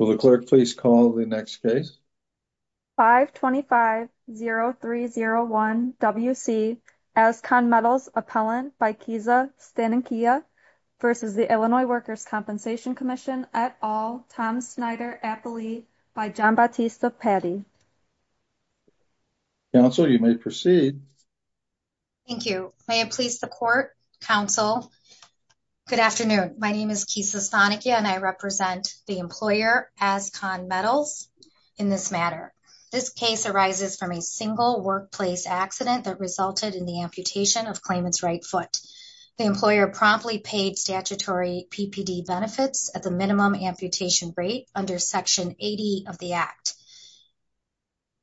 525-0301 W.C. Ascon Metals Appellant by Kesa Stanikia v. Illinois Workers' Compensation Commission et al. Tom Snyder-Appley by John Bautista-Patti Council you may proceed Thank you. May it please the court, council, good afternoon. My name is Kesa Stanikia and I represent the employer Ascon Metals in this matter. This case arises from a single workplace accident that resulted in the amputation of claimant's right foot. The employer promptly paid statutory PPD benefits at the minimum amputation rate under Section 80 of the Act.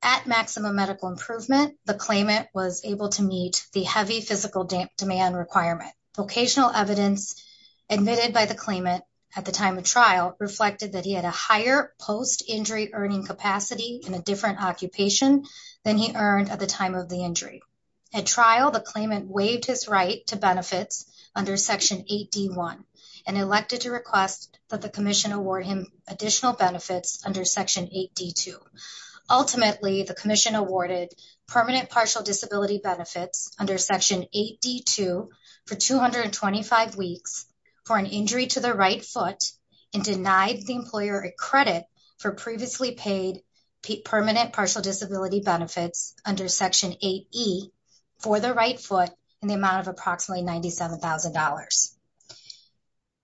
At maximum medical improvement, the claimant was able to meet the heavy physical demand requirement. Vocational evidence admitted by the claimant at the time of trial reflected that he had a higher post-injury earning capacity in a different occupation than he earned at the time of the injury. At trial, the claimant waived his right to benefits under Section 8D1 and elected to request that the commission award him additional benefits under Section 8D2. Ultimately, the commission awarded PPD benefits under Section 8D2 for 225 weeks for an injury to the right foot and denied the employer a credit for previously paid PPD benefits under Section 8E for the right foot in the amount of approximately $97,000.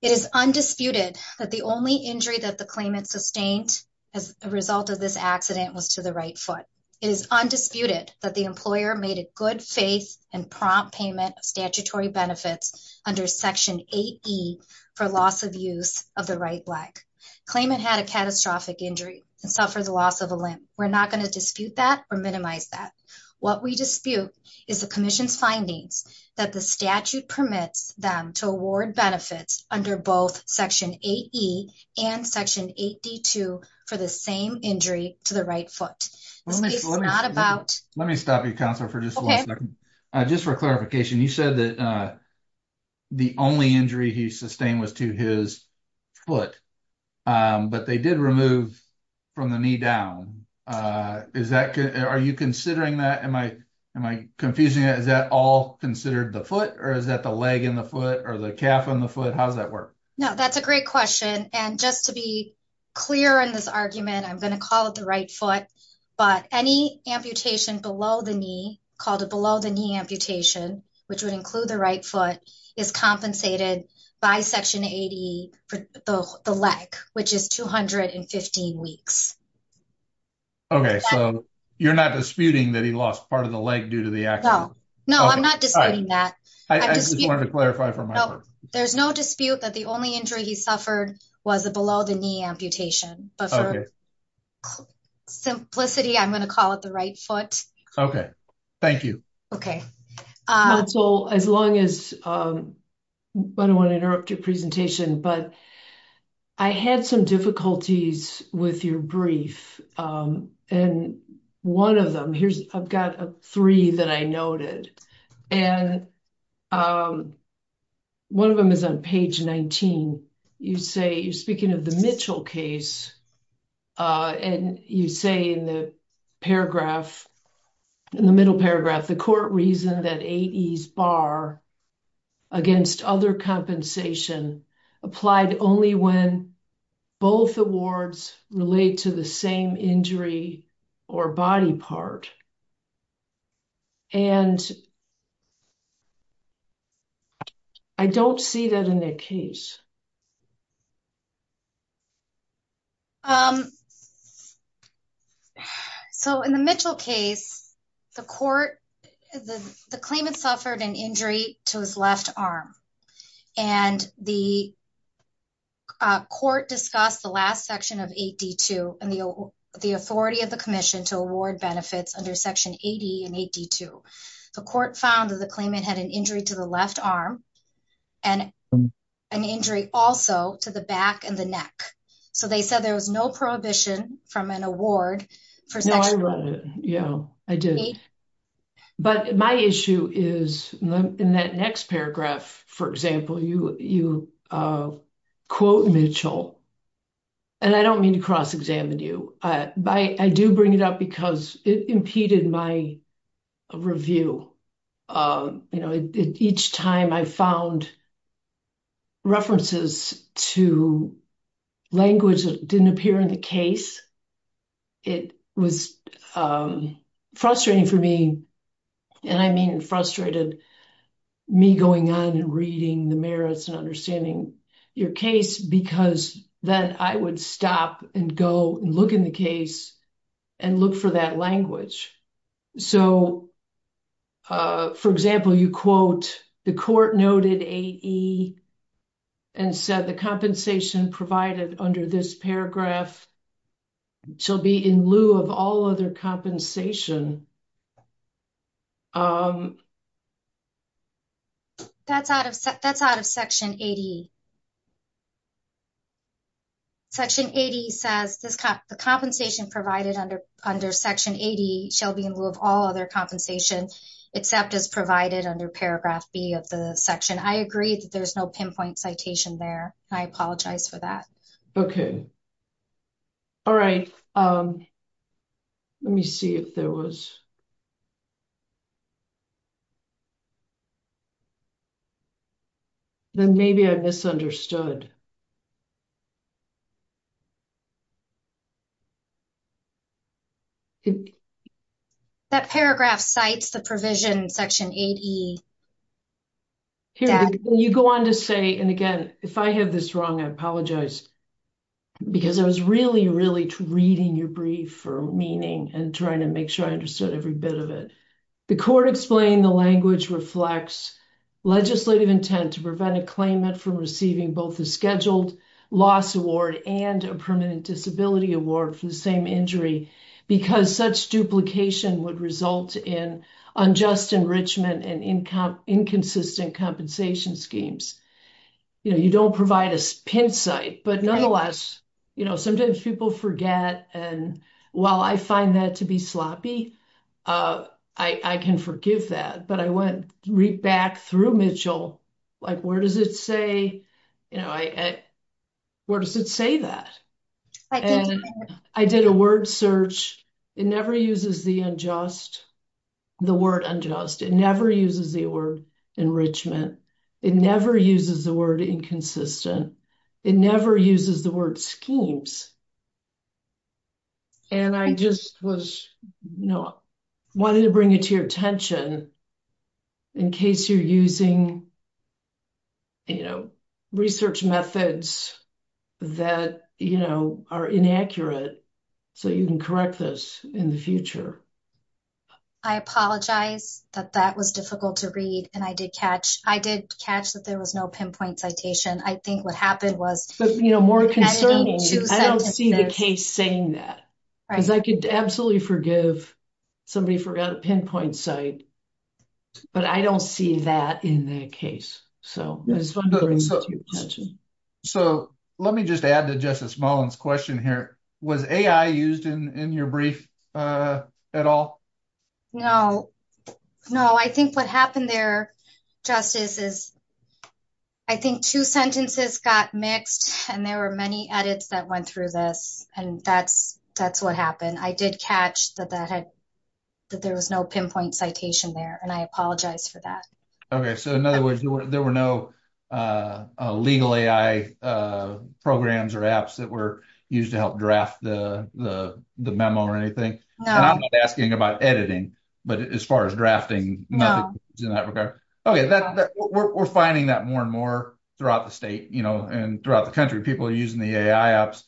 It is undisputed that the only injury that the claimant sustained as a result of this accident was to the right foot. It is undisputed that the employer made a good faith and prompt payment of statutory benefits under Section 8E for loss of use of the right leg. Claimant had a catastrophic injury and suffered the loss of a limb. We're not going to dispute that or minimize that. What we dispute is the commission's findings that the statute permits them to award benefits under both Section 8E and Section 8D2 for the same injury to the right foot. Let me stop you, Counselor, for just a second. Just for clarification, you said that the only injury he sustained was to his foot, but they did remove from the knee down. Are you considering that? Am I confusing that? Is that all considered the foot or is that the leg and the foot or the calf and the foot? How does that work? No, that's a great question. And just to be clear in this argument, I'm going to call it the right foot, but any amputation below the knee, called a below the knee amputation, which would include the right foot, is compensated by Section 8E for the leg, which is 215 weeks. Okay, so you're not disputing that he lost part of the leg due to the accident? No, I'm not disputing that. I just wanted to clarify for my part. There's no dispute that the only injury he suffered was the below the knee amputation, but for simplicity, I'm going to call it the right foot. Okay, thank you. As long as, I don't want to interrupt your presentation, but I had some difficulties with your brief. And one of them, here's, I've got three that I noted. And one of them is on page 19. You say, you're speaking of the Mitchell case. And you say in the paragraph, in the middle paragraph, the court reasoned that 8E's bar against other compensation applied only when both awards relate to the same injury or body part. And I don't see that in the case. So, in the Mitchell case, the court, the claimant suffered an injury to his left arm. And the court discussed the last section of 8D2 and the authority of the commission to award benefits under Section 8E and 8D2. The court found that the claimant had an injury to the left arm and an injury also to the back and the neck. So, they said there was no prohibition from an award. No, I read it. Yeah, I did. But my issue is in that next paragraph, for example, you quote Mitchell. And I don't mean to cross examine you, but I do bring it up because it impeded my review. You know, each time I found references to language that didn't appear in the case, it was frustrating for me. And I mean frustrated me going on and reading the merits and understanding your case because then I would stop and go look in the case and look for that language. So, for example, you quote the court noted 8E and said the compensation provided under this paragraph shall be in lieu of all other compensation. That's out of that's out of Section 8E. Section 8E says the compensation provided under Section 8E shall be in lieu of all other compensation except as provided under paragraph B of the section. I agree that there's no pinpoint citation there. I apologize for that. Okay. All right. Let me see if there was. Then maybe I misunderstood. That paragraph cites the provision Section 8E. You go on to say, and again, if I have this wrong, I apologize. Because I was really, really reading your brief for meaning and trying to make sure I understood every bit of it. The court explained the language reflects legislative intent to prevent a claimant from receiving both the scheduled loss award and a permanent disability award for the same injury because such duplication would result in unjust enrichment and inconsistent compensation schemes. You know, you don't provide a pin site, but nonetheless, you know, sometimes people forget and while I find that to be sloppy, I can forgive that. But I went back through Mitchell, like, where does it say, you know, where does it say that? I did a word search. It never uses the unjust, the word unjust. It never uses the word enrichment. It never uses the word inconsistent. It never uses the word schemes. And I just was, you know, wanted to bring it to your attention in case you're using, you know, research methods that, you know, are inaccurate. So you can correct this in the future. I apologize that that was difficult to read and I did catch I did catch that there was no pinpoint citation. I think what happened was, you know, more concerning. I don't see the case saying that because I could absolutely forgive somebody forgot a pinpoint site, but I don't see that in the case. So it's fun to bring it to your attention. So let me just add to Justice Mullins question here. Was AI used in your brief at all? No, no, I think what happened there, Justice, is I think two sentences got mixed and there were many edits that went through this and that's what happened. I did catch that there was no pinpoint citation there and I apologize for that. Okay, so in other words, there were no legal AI programs or apps that were used to help draft the memo or anything? I'm not asking about editing, but as far as drafting, no. Okay, we're finding that more and more throughout the state, you know, and throughout the country, people are using the AI apps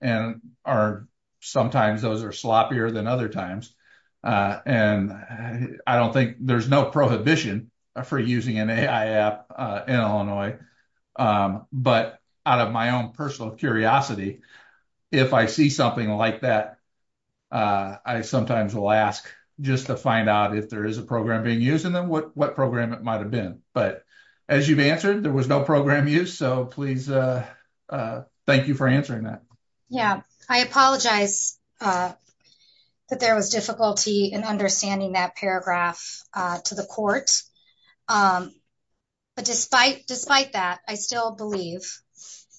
and are sometimes those are sloppier than other times. And I don't think there's no prohibition for using an AI app in Illinois. But out of my own personal curiosity, if I see something like that, I sometimes will ask just to find out if there is a program being used and then what program it might have been. But as you've answered, there was no program use. So please, thank you for answering that. Yeah, I apologize that there was difficulty in understanding that paragraph to the court. But despite that, I still believe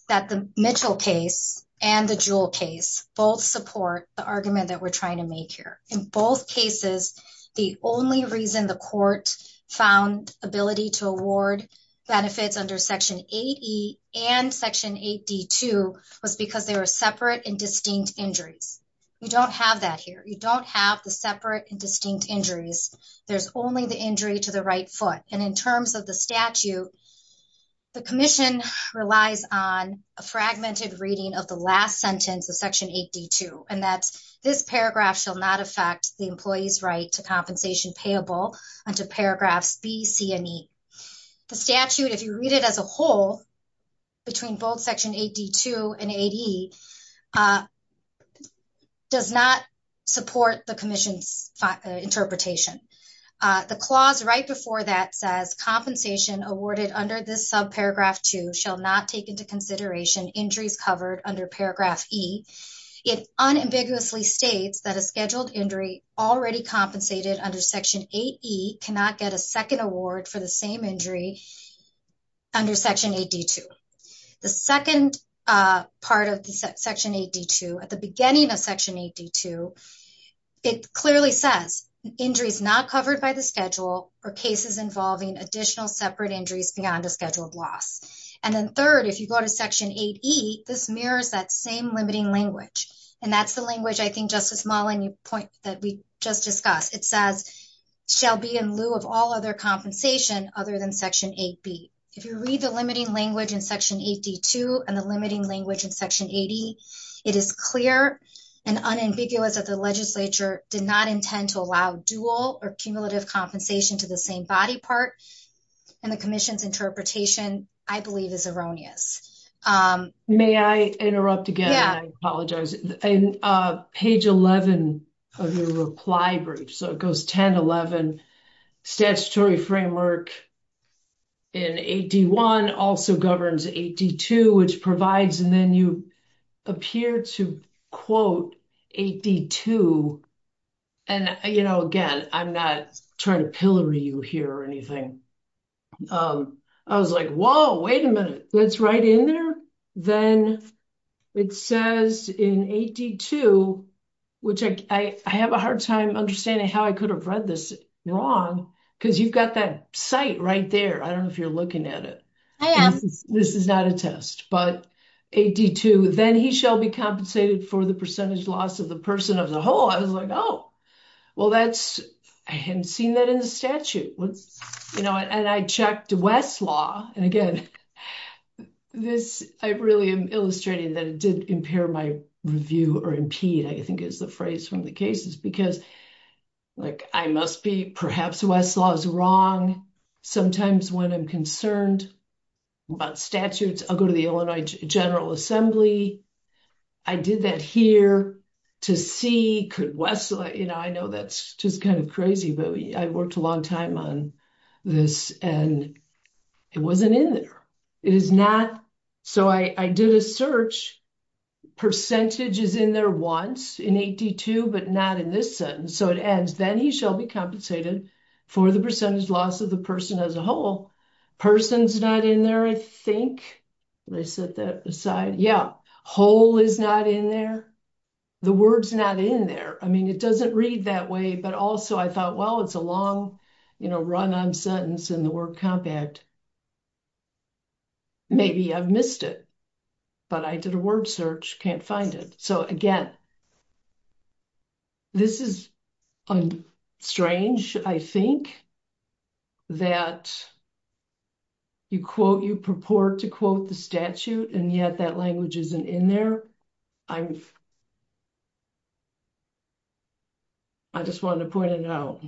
that the Mitchell case and the Jewell case both support the argument that we're trying to make here. In both cases, the only reason the court found ability to award benefits under Section 8E and Section 8D2 was because they were separate and distinct injuries. You don't have that here. You don't have the separate and distinct injuries. There's only the injury to the right foot. And in terms of the statute, the commission relies on a fragmented reading of the last sentence of Section 8D2. And that's this paragraph shall not affect the employee's right to compensation payable under paragraphs B, C, and E. The statute, if you read it as a whole, between both Section 8D2 and 8E, does not support the commission's interpretation. The clause right before that says compensation awarded under this subparagraph to shall not take into consideration injuries covered under paragraph E. It unambiguously states that a scheduled injury already compensated under Section 8E cannot get a second award for the same injury under Section 8D2. The second part of Section 8D2, at the beginning of Section 8D2, it clearly says injuries not covered by the schedule or cases involving additional separate injuries beyond a scheduled loss. And then third, if you go to Section 8E, this mirrors that same limiting language. And that's the language, I think, Justice Mullin, you point that we just discussed. It says shall be in lieu of all other compensation other than Section 8B. If you read the limiting language in Section 8D2 and the limiting language in Section 8E, it is clear and unambiguous that the legislature did not intend to allow dual or cumulative compensation to the same body part. And the commission's interpretation, I believe, is erroneous. May I interrupt again? I apologize. Page 11 of your reply brief, so it goes 10, 11, statutory framework in 8D1 also governs 8D2, which provides and then you appear to quote 8D2. And, you know, again, I'm not trying to pillory you here or anything. I was like, whoa, wait a minute. That's right in there? Then it says in 8D2, which I have a hard time understanding how I could have read this wrong, because you've got that site right there. I don't know if you're looking at it. This is not a test, but 8D2, then he shall be compensated for the percentage loss of the person of the whole. I was like, oh, well, that's I hadn't seen that in the statute. And I checked Westlaw and again, this, I really am illustrating that it did impair my review or impede, I think is the phrase from the cases because, like, I must be perhaps Westlaw is wrong. Sometimes when I'm concerned about statutes, I'll go to the Illinois General Assembly. I did that here to see could Westlaw, you know, I know that's just kind of crazy, but I worked a long time on this and it wasn't in there. So I did a search. Percentage is in there once in 8D2, but not in this sentence. So it ends, then he shall be compensated for the percentage loss of the person as a whole. Person's not in there, I think. Did I set that aside? Yeah, whole is not in there. The word's not in there. I mean, it doesn't read that way, but also I thought, well, it's a long, you know, run on sentence in the word compact. Maybe I've missed it, but I did a word search. Can't find it. So again, this is strange. I think that you quote, you purport to quote the statute and yet that language isn't in there. I'm. I just wanted to point it out.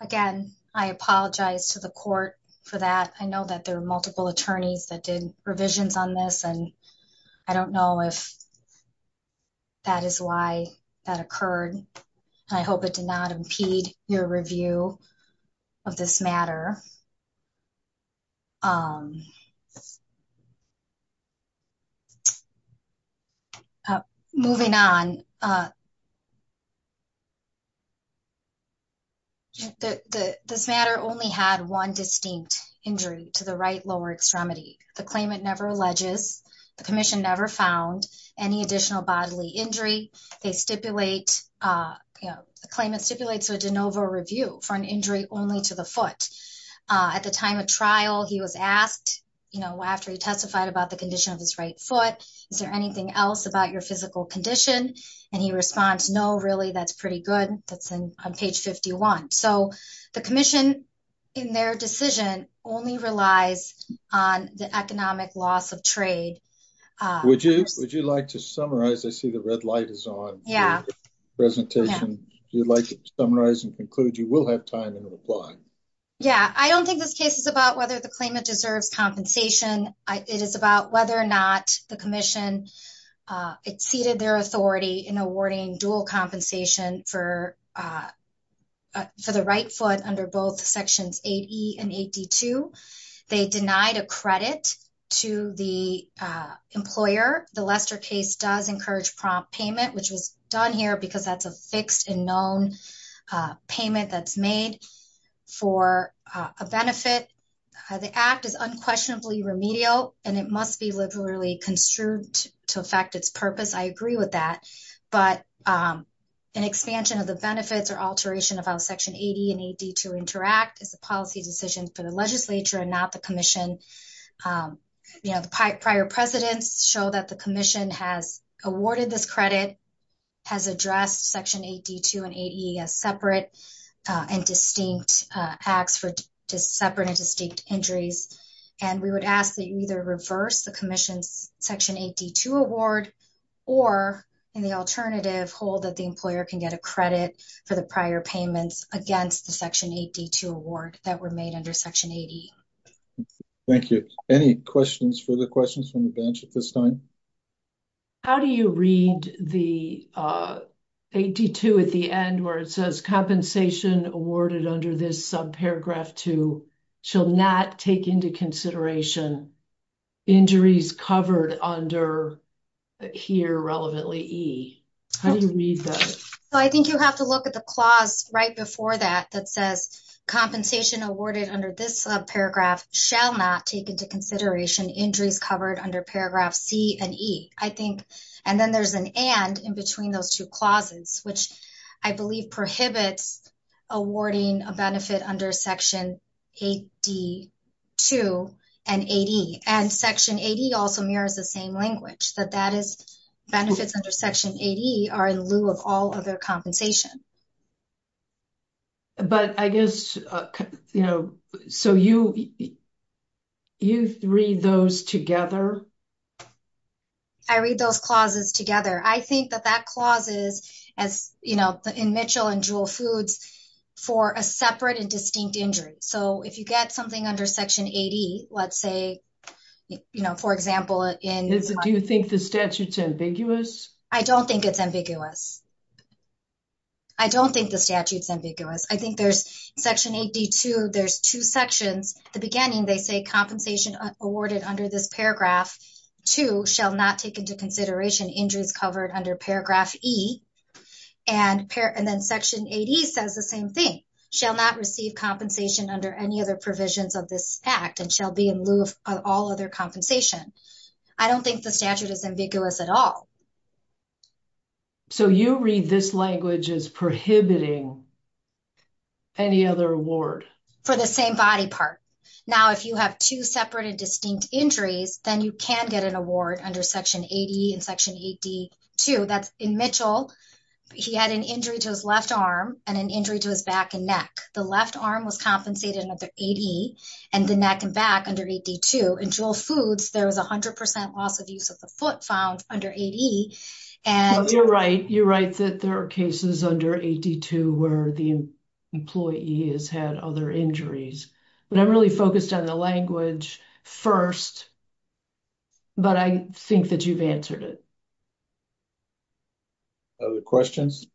Again, I apologize to the court for that. I know that there are multiple attorneys that did revisions on this, and I don't know if that is why that occurred. I hope it did not impede your review of this matter. Um. Moving on. This matter only had one distinct injury to the right lower extremity. The claimant never alleges the commission never found any additional bodily injury. They stipulate a claim and stipulates a de novo review for an injury only to the foot at the time of trial. He was asked after he testified about the condition of his right foot. Is there anything else about your physical condition? And he responds? No, really? That's pretty good. That's on page 51. So the commission in their decision only relies on the economic loss of trade. Would you would you like to summarize I see the red light is on. Yeah. Presentation, you'd like to summarize and conclude you will have time and reply. Yeah, I don't think this case is about whether the claimant deserves compensation. It is about whether or not the commission exceeded their authority in awarding dual compensation for. For the right foot under both sections 80 and 82, they denied a credit to the employer. The Lester case does encourage prompt payment, which was done here because that's a fixed and known payment that's made for a benefit. The act is unquestionably remedial, and it must be literally construed to affect its purpose. I agree with that, but an expansion of the benefits or alteration of our section 80 and 80 to interact as a policy decision for the legislature and not the commission. You know, the prior precedents show that the commission has awarded this credit has addressed section 80 to an 80 as separate and distinct acts for separate and distinct injuries. And we would ask that you either reverse the commission's section 80 to award, or in the alternative hold that the employer can get a credit for the prior payments against the section 80 to award that were made under section 80. Thank you. Any questions for the questions from the bench at this time? How do you read the 82 at the end where it says compensation awarded under this sub paragraph to shall not take into consideration. Injuries covered under. Here, relevantly. I didn't read that. So, I think you have to look at the clause right before that that says compensation awarded under this sub paragraph shall not take into consideration injuries covered under paragraph C and E. I think, and then there's an end in between those 2 clauses, which I believe prohibits awarding a benefit under section. 82 and 80 and section 80 also mirrors the same language that that is benefits under section 80 are in lieu of all other compensation. But I guess, you know, so you. You read those together. I read those clauses together. I think that that clauses, as you know, in Mitchell and jewel foods for a separate and distinct injury. So, if you get something under section 80, let's say, you know, for example, in do you think the statutes ambiguous. I don't think it's ambiguous. I don't think the statutes ambiguous. I think there's section 80 to there's 2 sections, the beginning they say compensation awarded under this paragraph to shall not take into consideration injuries covered under paragraph E. And and then section 80 says the same thing shall not receive compensation under any other provisions of this act and shall be in lieu of all other compensation. I don't think the statute is ambiguous at all. So, you read this language is prohibiting. Any other award for the same body part. Now, if you have 2 separate and distinct injuries, then you can get an award under section 80 and section 82. that's in Mitchell. He had an injury to his left arm and an injury to his back and neck. The left arm was compensated another 80 and the neck and back under 82 and jewel foods. There was 100% loss of use of the foot found under 80. And you're right, you're right that there are cases under 82, where the employee has had other injuries, but I'm really focused on the language 1st. But I think that you've answered it. Other questions.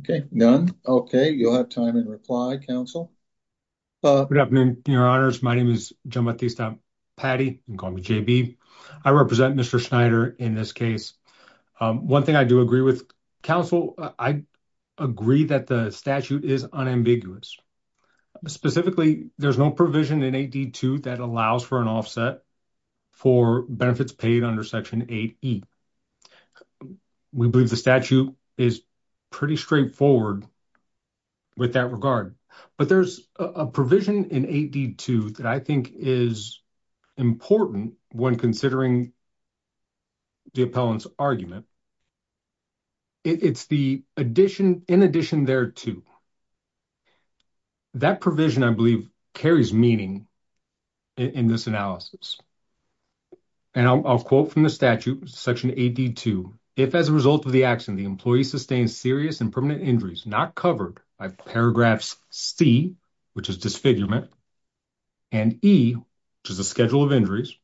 Okay, none. Okay. You'll have time and reply council. Good afternoon, your honors. My name is Patty. I'm going to JB. I represent Mr. Schneider in this case. 1 thing I do agree with counsel. I agree that the statute is unambiguous. Specifically, there's no provision in 82 that allows for an offset. For benefits paid under section 8. We believe the statute is pretty straightforward. With that regard, but there's a provision in 82 that I think is. Important when considering the appellant's argument. It's the addition in addition there too. That provision, I believe, carries meaning. In this analysis. And I'll quote from the statute section 82 if, as a result of the action, the employee sustained serious and permanent injuries, not covered by paragraphs C, which is disfigurement. And E, which is a schedule of injuries.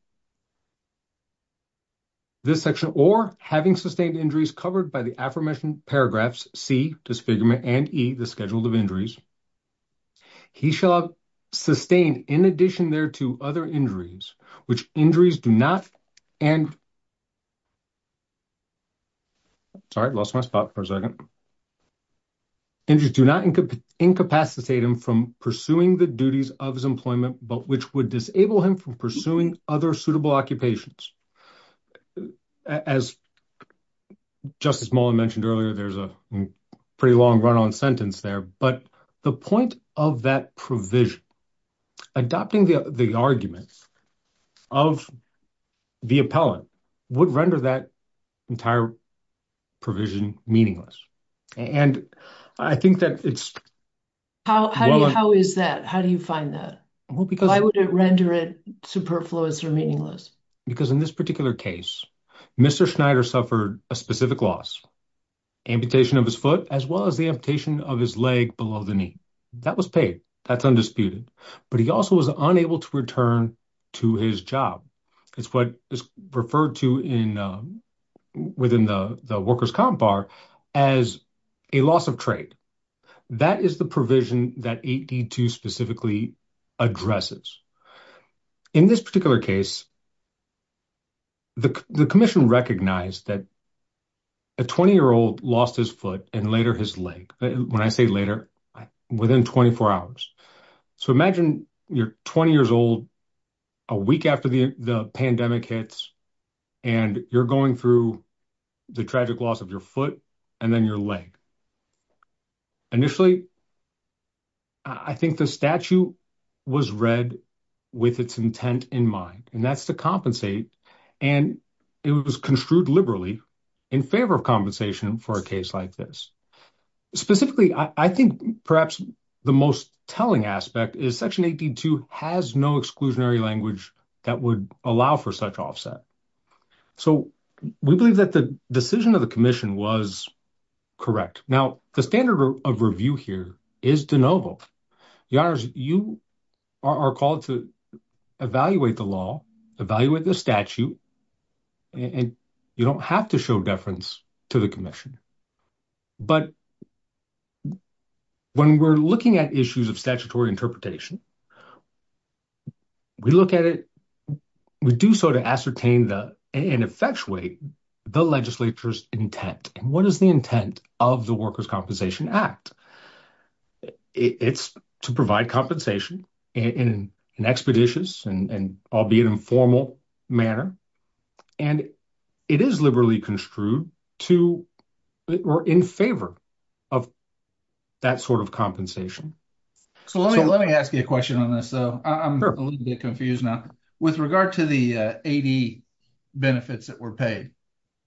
This section or having sustained injuries covered by the affirmation paragraphs C, disfigurement and E, the schedule of injuries. He shall have sustained in addition there to other injuries, which injuries do not. And. Sorry, I lost my spot for a second. And just do not incapacitate him from pursuing the duties of his employment, but which would disable him from pursuing other suitable occupations. As. Justice Mullen mentioned earlier, there's a pretty long run on sentence there, but the point of that provision. Adopting the arguments. Of the appellant would render that. Entire provision meaningless. And I think that it's. How is that? How do you find that? Why would it render it superfluous or meaningless? Because in this particular case, Mr. Schneider suffered a specific loss. Amputation of his foot as well as the amputation of his leg below the knee. That was paid. That's undisputed, but he also was unable to return to his job. It's what is referred to in. Within the workers comp bar as. A loss of trade that is the provision that 82 specifically. Addresses in this particular case. The commission recognized that. A 20 year old lost his foot and later his leg when I say later. Within 24 hours, so imagine you're 20 years old. A week after the pandemic hits. And you're going through. The tragic loss of your foot and then your leg. Initially. I think the statue was read. With its intent in mind, and that's to compensate. And it was construed liberally. In favor of compensation for a case like this. Specifically, I think perhaps the most telling aspect is section. 82 has no exclusionary language that would allow for such offset. So, we believe that the decision of the commission was. Correct now, the standard of review here is de novo. You are called to. Evaluate the law, evaluate the statute. And you don't have to show deference to the commission. You don't have to show deference to the commission. You don't have to show deference to the commission. When we're looking at issues of statutory interpretation. We look at it. We do sort of ascertain the. And effectuate the legislature's intent. And what is the intent of the workers compensation act? It's to provide compensation. In an expeditious and. I'll be an informal manner. And it is liberally construed to. We're in favor. Of that sort of compensation. So, let me, let me ask you a question on this. So, I'm a little bit confused now. With regard to the 80. Benefits that were paid.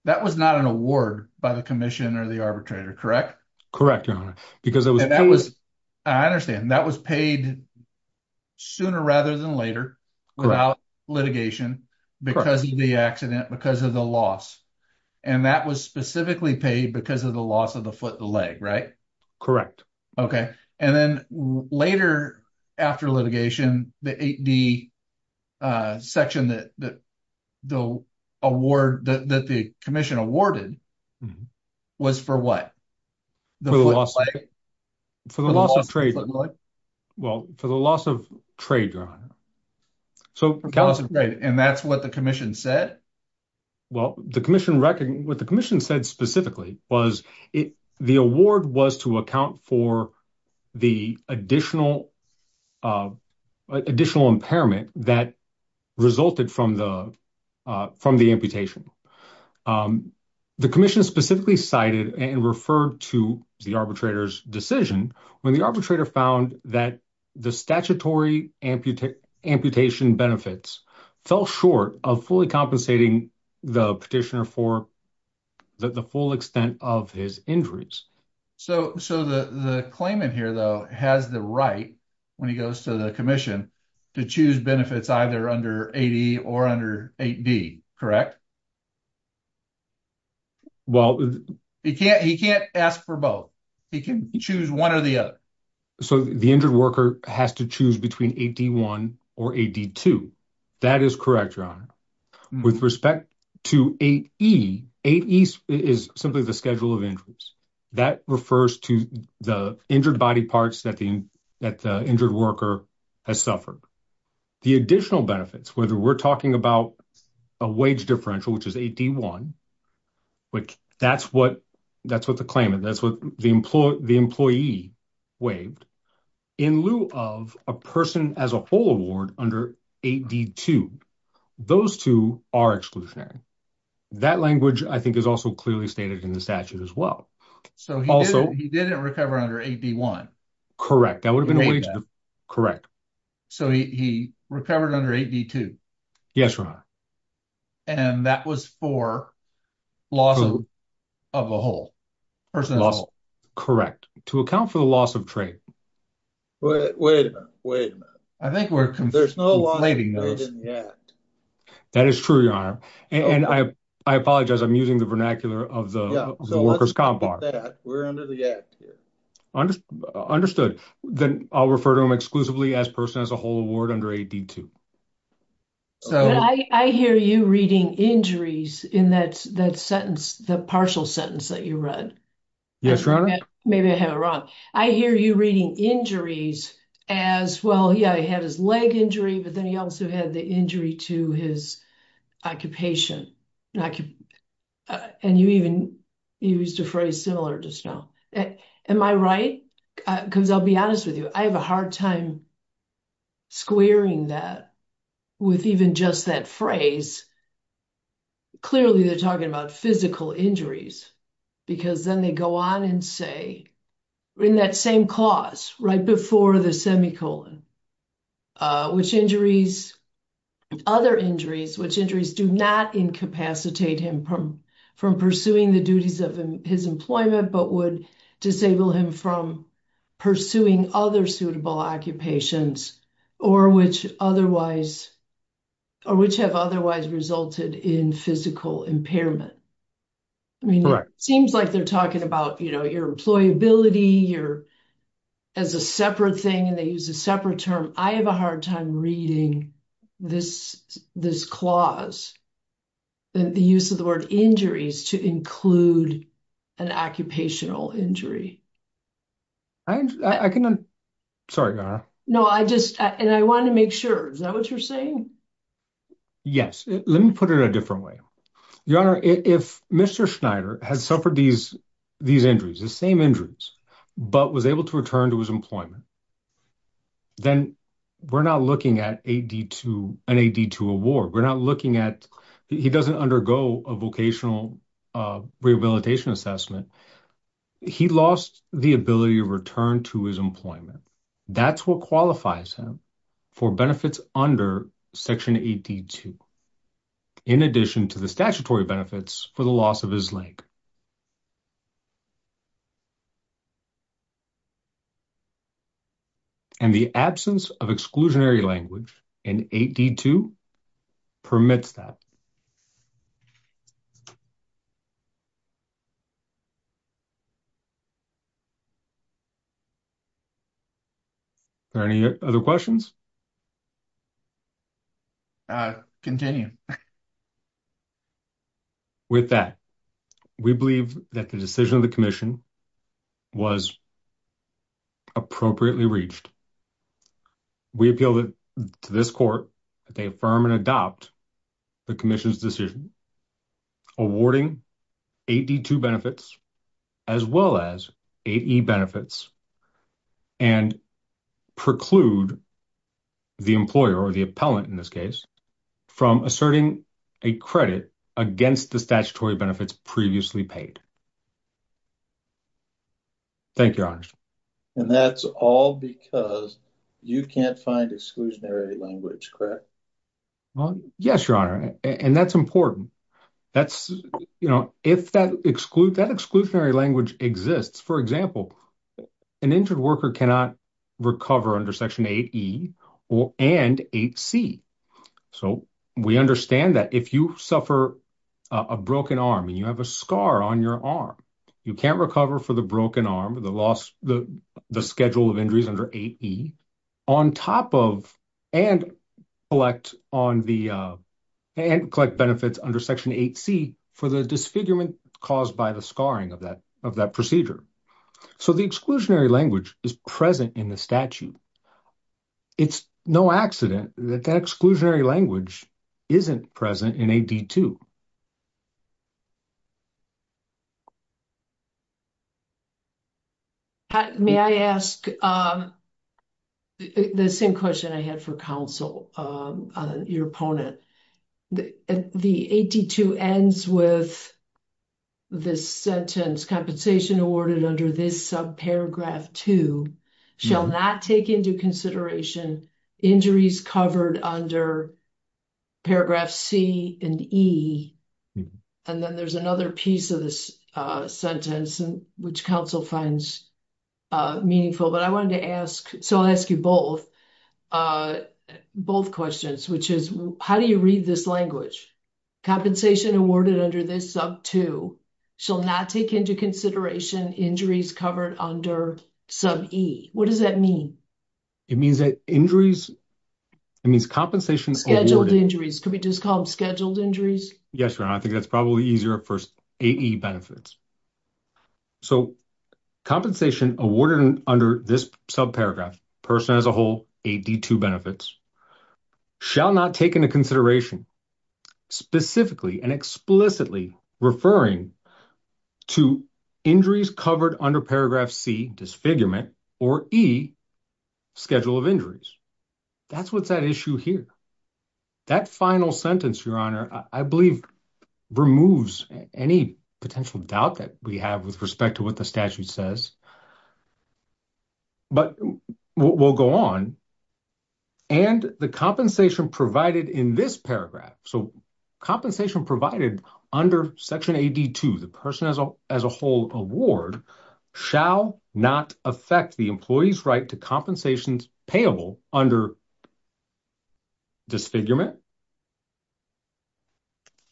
That was not an award by the commission or the arbitrator. Correct. Correct. Because that was. I understand that was paid. For the foot of the leg. Sooner rather than later. Litigation. Because of the accident, because of the loss. And that was specifically paid because of the loss of the foot, the leg. Right. Correct. Okay. And then later. After litigation, the eight D. Section that. The award that the commission awarded. Was for what. For the loss. For the loss of trade. Well, for the loss of trade. So. And that's what the commission said. Well, the commission. What the commission said specifically was it. The award was to account for. The additional. Additional impairment that resulted from the. From the amputation. From the amputation. The commission specifically cited and referred to the arbitrator's decision. When the arbitrator found that the statutory amputee. Amputation benefits. Fell short of fully compensating. The petitioner for. The full extent of his injuries. So, so the, the claimant here though, has the right. To choose. When he goes to the commission. To choose benefits either under 80 or under eight D. Correct. Well, He can't, he can't ask for both. He can choose one or the other. So the injured worker has to choose between 81 or 82. That is correct. With respect. To eight E eight East is simply the schedule of injuries. That refers to the injured body parts that the. That the injured worker has suffered. The additional benefits, whether we're talking about. A wage differential, which is 81. Which that's what, that's what the claimant that's what the employee, the employee. Waived. In lieu of a person as a whole award under. So he didn't recover under 81. So he recovered under 82. Yes, right. And that was for. Loss. Of a whole. Correct. To account for the loss of trade. Wait, wait, wait a minute. I think we're. There's no. That is true. Your honor. And I, I apologize. I'm using the vernacular of the. We're under the act here. Understood. Then I'll refer to him exclusively as person as a whole award under 82. So I hear you reading injuries in that. That sentence, the partial sentence that you run. Yes. Maybe I have it wrong. I hear you reading injuries. As well. Yeah. He had his leg injury, but then he also had the injury to his. Occupation. And you even used a phrase similar to snow. Am I right? Cause I'll be honest with you. I have a hard time. Squaring that. With even just that phrase. Clearly they're talking about physical injuries. Because then they go on and say. We're in that same clause right before the semi-colon. Which injuries. Other injuries, which injuries do not incapacitate him from. From pursuing the duties of his employment, but would disable him from. Pursuing other suitable occupations or which otherwise. Or which have otherwise resulted in physical impairment. Correct. Seems like they're talking about, you know, your employability. You're. As a separate thing and they use a separate term. I have a hard time reading. This, this clause. The use of the word injuries to include. An occupational injury. I can. Sorry. No, I just, and I want to make sure. Is that what you're saying? Yes, let me put it a different way. Your honor, if Mr. Schneider has suffered these. These injuries, the same injuries, but was able to return to his employment. Then. We're not looking at 82 and 82 award. We're not looking at. He doesn't undergo a vocational. Rehabilitation assessment. He lost the ability to return to his employment. That's what qualifies him. For benefits under section 82. In addition to the statutory benefits for the loss of his leg. And the absence of exclusionary language. And 82. Permits that. Any other questions. Continue. With that. We believe that the decision of the commission. Was appropriately reached. We appeal to this court. That they affirm and adopt. The commission's decision. Awarding 82 benefits. As well as 80 benefits. And preclude. The employer or the appellant in this case. From asserting a credit against the statutory benefits previously paid. Thank you. And that's all because you can't find exclusionary language. Well, yes, your honor. And that's important. That's. You know, if that exclude that exclusionary language exists, for example. An injured worker cannot recover under section eight. Or and eight C. So we understand that if you suffer. A broken arm and you have a scar on your arm. You can't recover for the broken arm, the loss, the. The schedule of injuries under eight. On top of. And elect on the. And collect benefits under section eight C for the disfigurement. Caused by the scarring of that, of that procedure. So the exclusionary language is present in the statute. It's no accident that that exclusionary language. Isn't present in a. May I ask. The same question I had for counsel. Your opponent. The 82 ends with. This sentence compensation awarded under this sub paragraph to. Shall not take into consideration. Injuries covered under. Paragraph C and E. And then there's another piece of this. Sentence. Which council finds. Meaningful, but I wanted to ask. So I'll ask you both. Both questions, which is how do you read this language? Compensation awarded under this sub two. Shall not take into consideration injuries covered under. Sub E. What does that mean? It means that injuries. It means compensation. Injuries could be just called scheduled injuries. Yes. I think that's probably easier at first. Benefits. So. Compensation awarded under this sub paragraph. Person as a whole 82 benefits. Shall not take into consideration. Specifically and explicitly referring. To injuries covered under paragraph C. Disfigurement or E. Schedule of injuries. That's what's that issue here. That final sentence, your honor, I believe. Removes any potential doubt that we have with respect to what the statute says. But we'll go on. And the compensation provided in this paragraph. So compensation provided under section 82, the person as a, as a whole award. Shall not affect the employee's right to compensations payable under. Disfigurement.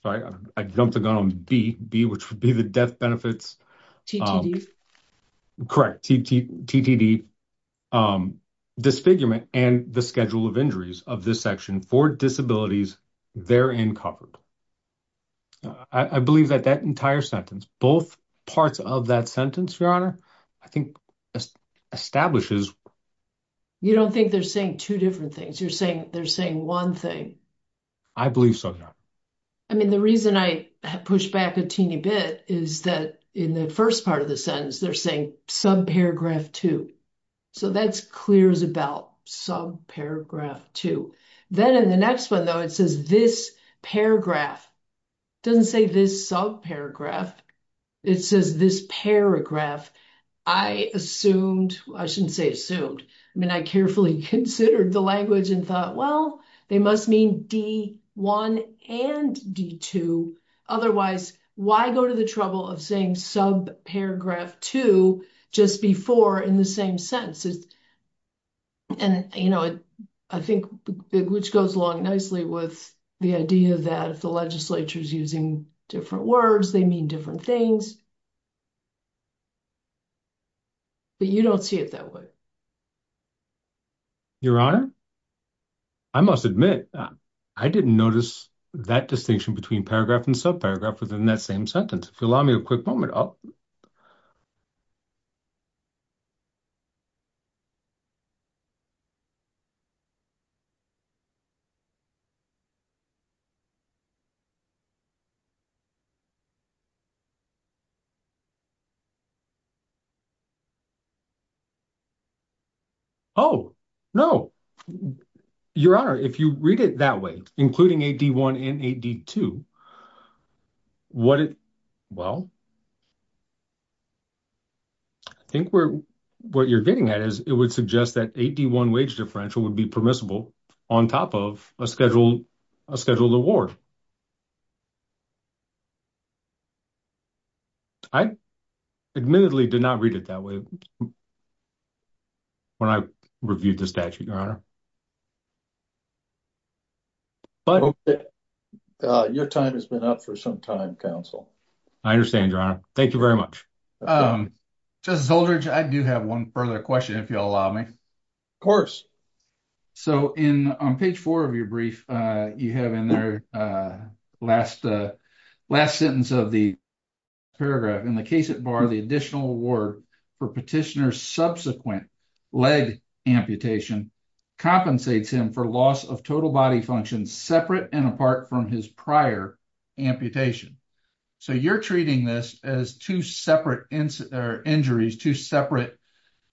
Sorry, I jumped the gun on B, B, which would be the death benefits. Correct. Disfigurement and the schedule of injuries of this section for disabilities. They're in covered. I believe that that entire sentence, both parts of that sentence, your honor. I think establishes. You don't think they're saying 2 different things you're saying they're saying 1 thing. I believe so. I mean, the reason I pushed back a teeny bit is that in the 1st, part of the sentence, they're saying sub paragraph 2. So that's clear as a bell sub paragraph 2. Then in the next 1, though, it says this paragraph. Doesn't say this sub paragraph. It says this paragraph. I assumed I shouldn't say assumed. I mean, I carefully considered the language and thought, well, they must mean D1 and D2. Otherwise, why go to the trouble of saying sub paragraph 2 just before in the same sentences. And, you know, I think which goes along nicely with the idea that if the legislature is using different words, they mean different things. But you don't see it that way. Your honor. I must admit, I didn't notice that distinction between paragraph and sub paragraph within that same sentence. If you allow me a quick moment. Oh, no. Your honor, if you read it that way, including a D1 and a D2. What it well. I think we're what you're getting at is it would suggest that 81 wage differential would be permissible on top of a schedule a schedule award. I admittedly did not read it that way. When I reviewed the statute, your honor. But your time has been up for some time council. I understand your honor. Thank you very much. Just soldier. I do have 1 further question if you'll allow me. Of course. So, in on page 4 of your brief, you have in their last last sentence of the paragraph in the case at bar the additional work for petitioners subsequent leg amputation compensates him for loss of total body functions separate and apart from his prior amputation. So, you're treating this as 2 separate or injuries to separate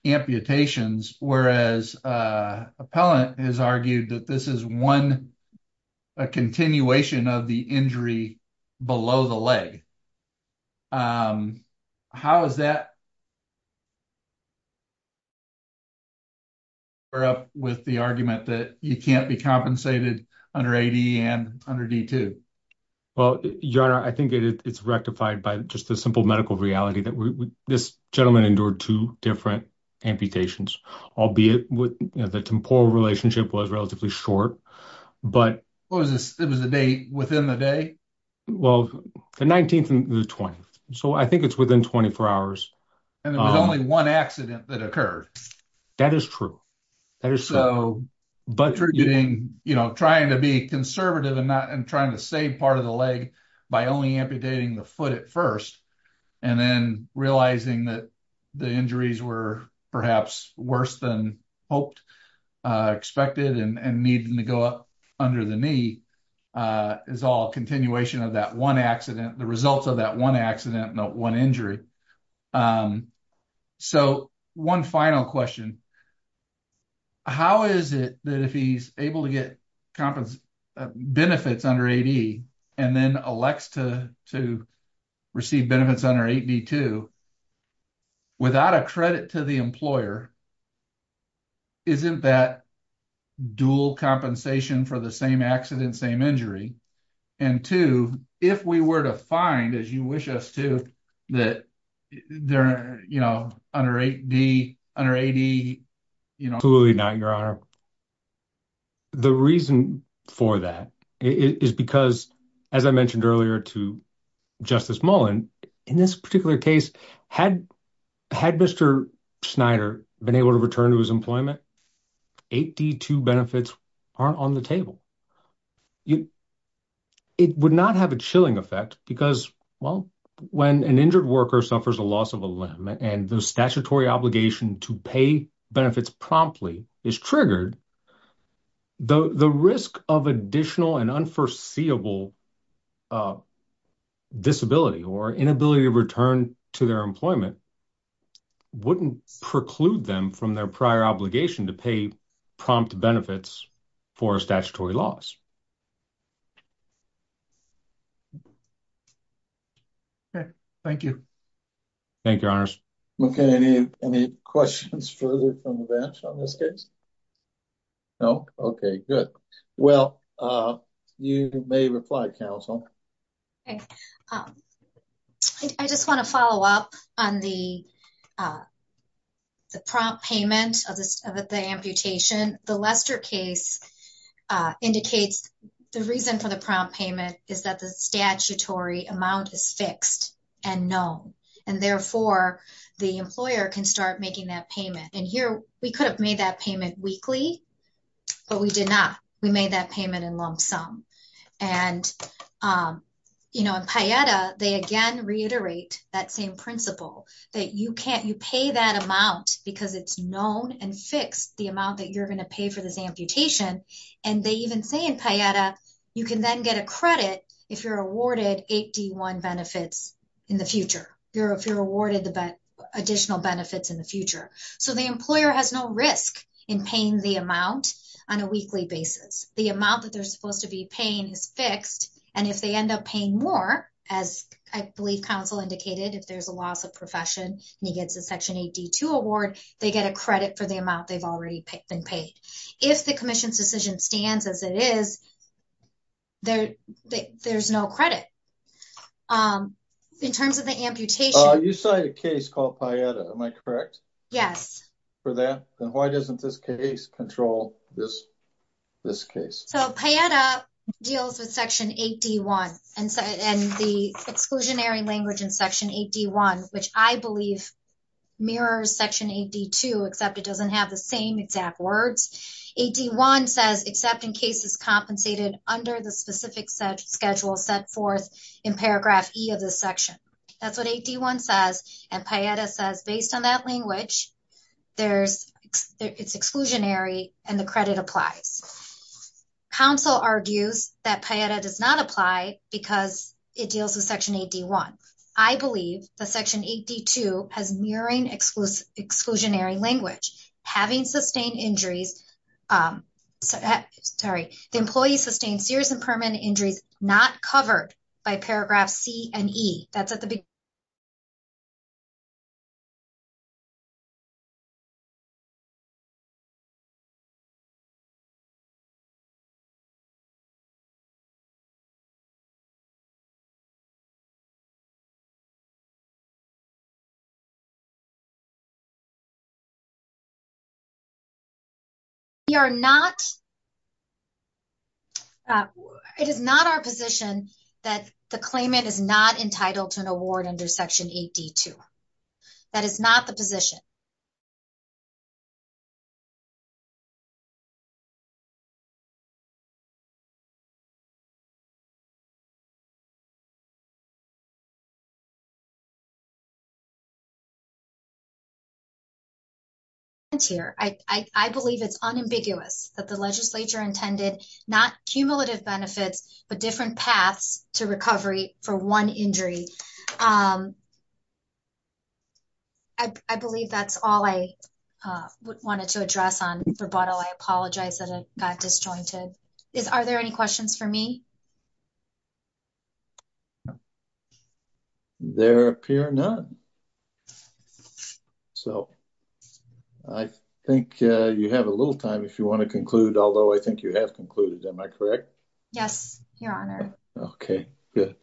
amputations, whereas appellant has argued that this is 1. A continuation of the injury below the leg. How is that. We're up with the argument that you can't be compensated under 80 and under D2. Well, your honor, I think it's rectified by just a simple medical reality that this gentleman endured 2 different amputations, albeit with the temporal relationship was relatively short. But it was a day within the day. Well, the 19th and the 20th, so I think it's within 24 hours. And there was only 1 accident that occurred. That is true. But you're getting, you know, trying to be conservative and not and trying to save part of the leg by only amputating the foot at 1st. And then realizing that the injuries were perhaps worse than hoped expected and needed to go up under the knee is all continuation of that 1 accident. The results of that 1 accident, not 1 injury. So, 1 final question. How is it that if he's able to get benefits under 80 and then elects to receive benefits under 82, without a credit to the employer, isn't that dual compensation for the same accident, same injury? And 2, if we were to find, as you wish us to, that they're, you know, under 80, you know. Absolutely not, your honor. The reason for that is because, as I mentioned earlier to Justice Mullen, in this particular case, had Mr. Snyder been able to return to his employment, 82 benefits aren't on the table. It would not have a chilling effect because, well, when an injured worker suffers a loss of a limb and the statutory obligation to pay benefits promptly is triggered, the risk of additional and unforeseeable disability or inability to return to their employment wouldn't preclude them from their prior obligation to pay prompt benefits for a statutory liability. Okay, thank you. Thank you, your honors. Okay, any questions further from the bench on this case? No? Okay, good. Well, you may reply, counsel. I just want to follow up on the prompt payment of the amputation. The Lester case indicates the reason for the prompt payment is that the statutory amount is fixed and known, and therefore, the employer can start making that payment. And here, we could have made that payment weekly, but we did not. We made that payment in lump sum. And, you know, in PAIETA, they again reiterate that same principle, that you pay that amount because it's known and fixed, the amount that you're going to pay for this amputation. And they even say in PAIETA, you can then get a credit if you're awarded 81 benefits in the future, if you're awarded additional benefits in the future. So the employer has no risk in paying the amount on a weekly basis. The amount that they're supposed to be paying is fixed. And if they end up paying more, as I believe counsel indicated, if there's a loss of profession, and he gets a Section 82 award, they get a credit for the amount they've already been paid. If the commission's decision stands as it is, there's no credit. In terms of the amputation. You cited a case called PAIETA, am I correct? For that? Then why doesn't this case control this case? So PAIETA deals with Section 81, and the exclusionary language in Section 81, which I believe mirrors Section 82, except it doesn't have the same exact words. 81 says except in cases compensated under the specific set schedule set forth in paragraph E of this section. That's what 81 says, and PAIETA says based on that language, it's exclusionary and the credit applies. Counsel argues that PAIETA does not apply because it deals with Section 81. I believe that Section 82 has mirroring exclusionary language. Having sustained injuries, sorry, the employee sustained serious and permanent injuries not covered by paragraph C and E. That's at the beginning. We are not, it is not our position that the claimant is not entitled to an award under Section 82. That is not the position. I believe it's unambiguous that the legislature intended not cumulative benefits, but different paths to recovery for one injury. I believe that's all I wanted to address on rebuttal. I apologize that it got disjointed. Are there any questions for me? There appear none. So I think you have a little time if you want to conclude, although I think you have concluded. Am I correct? Yes, Your Honor. Okay, good.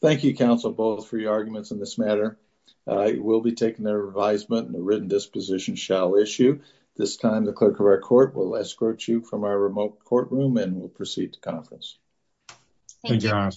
Thank you, counsel, both for your arguments in this matter. I will be taking their advisement and the written disposition shall issue. This time, the clerk of our court will escort you from our remote courtroom and we'll proceed to conference. Thank you, Your Honor.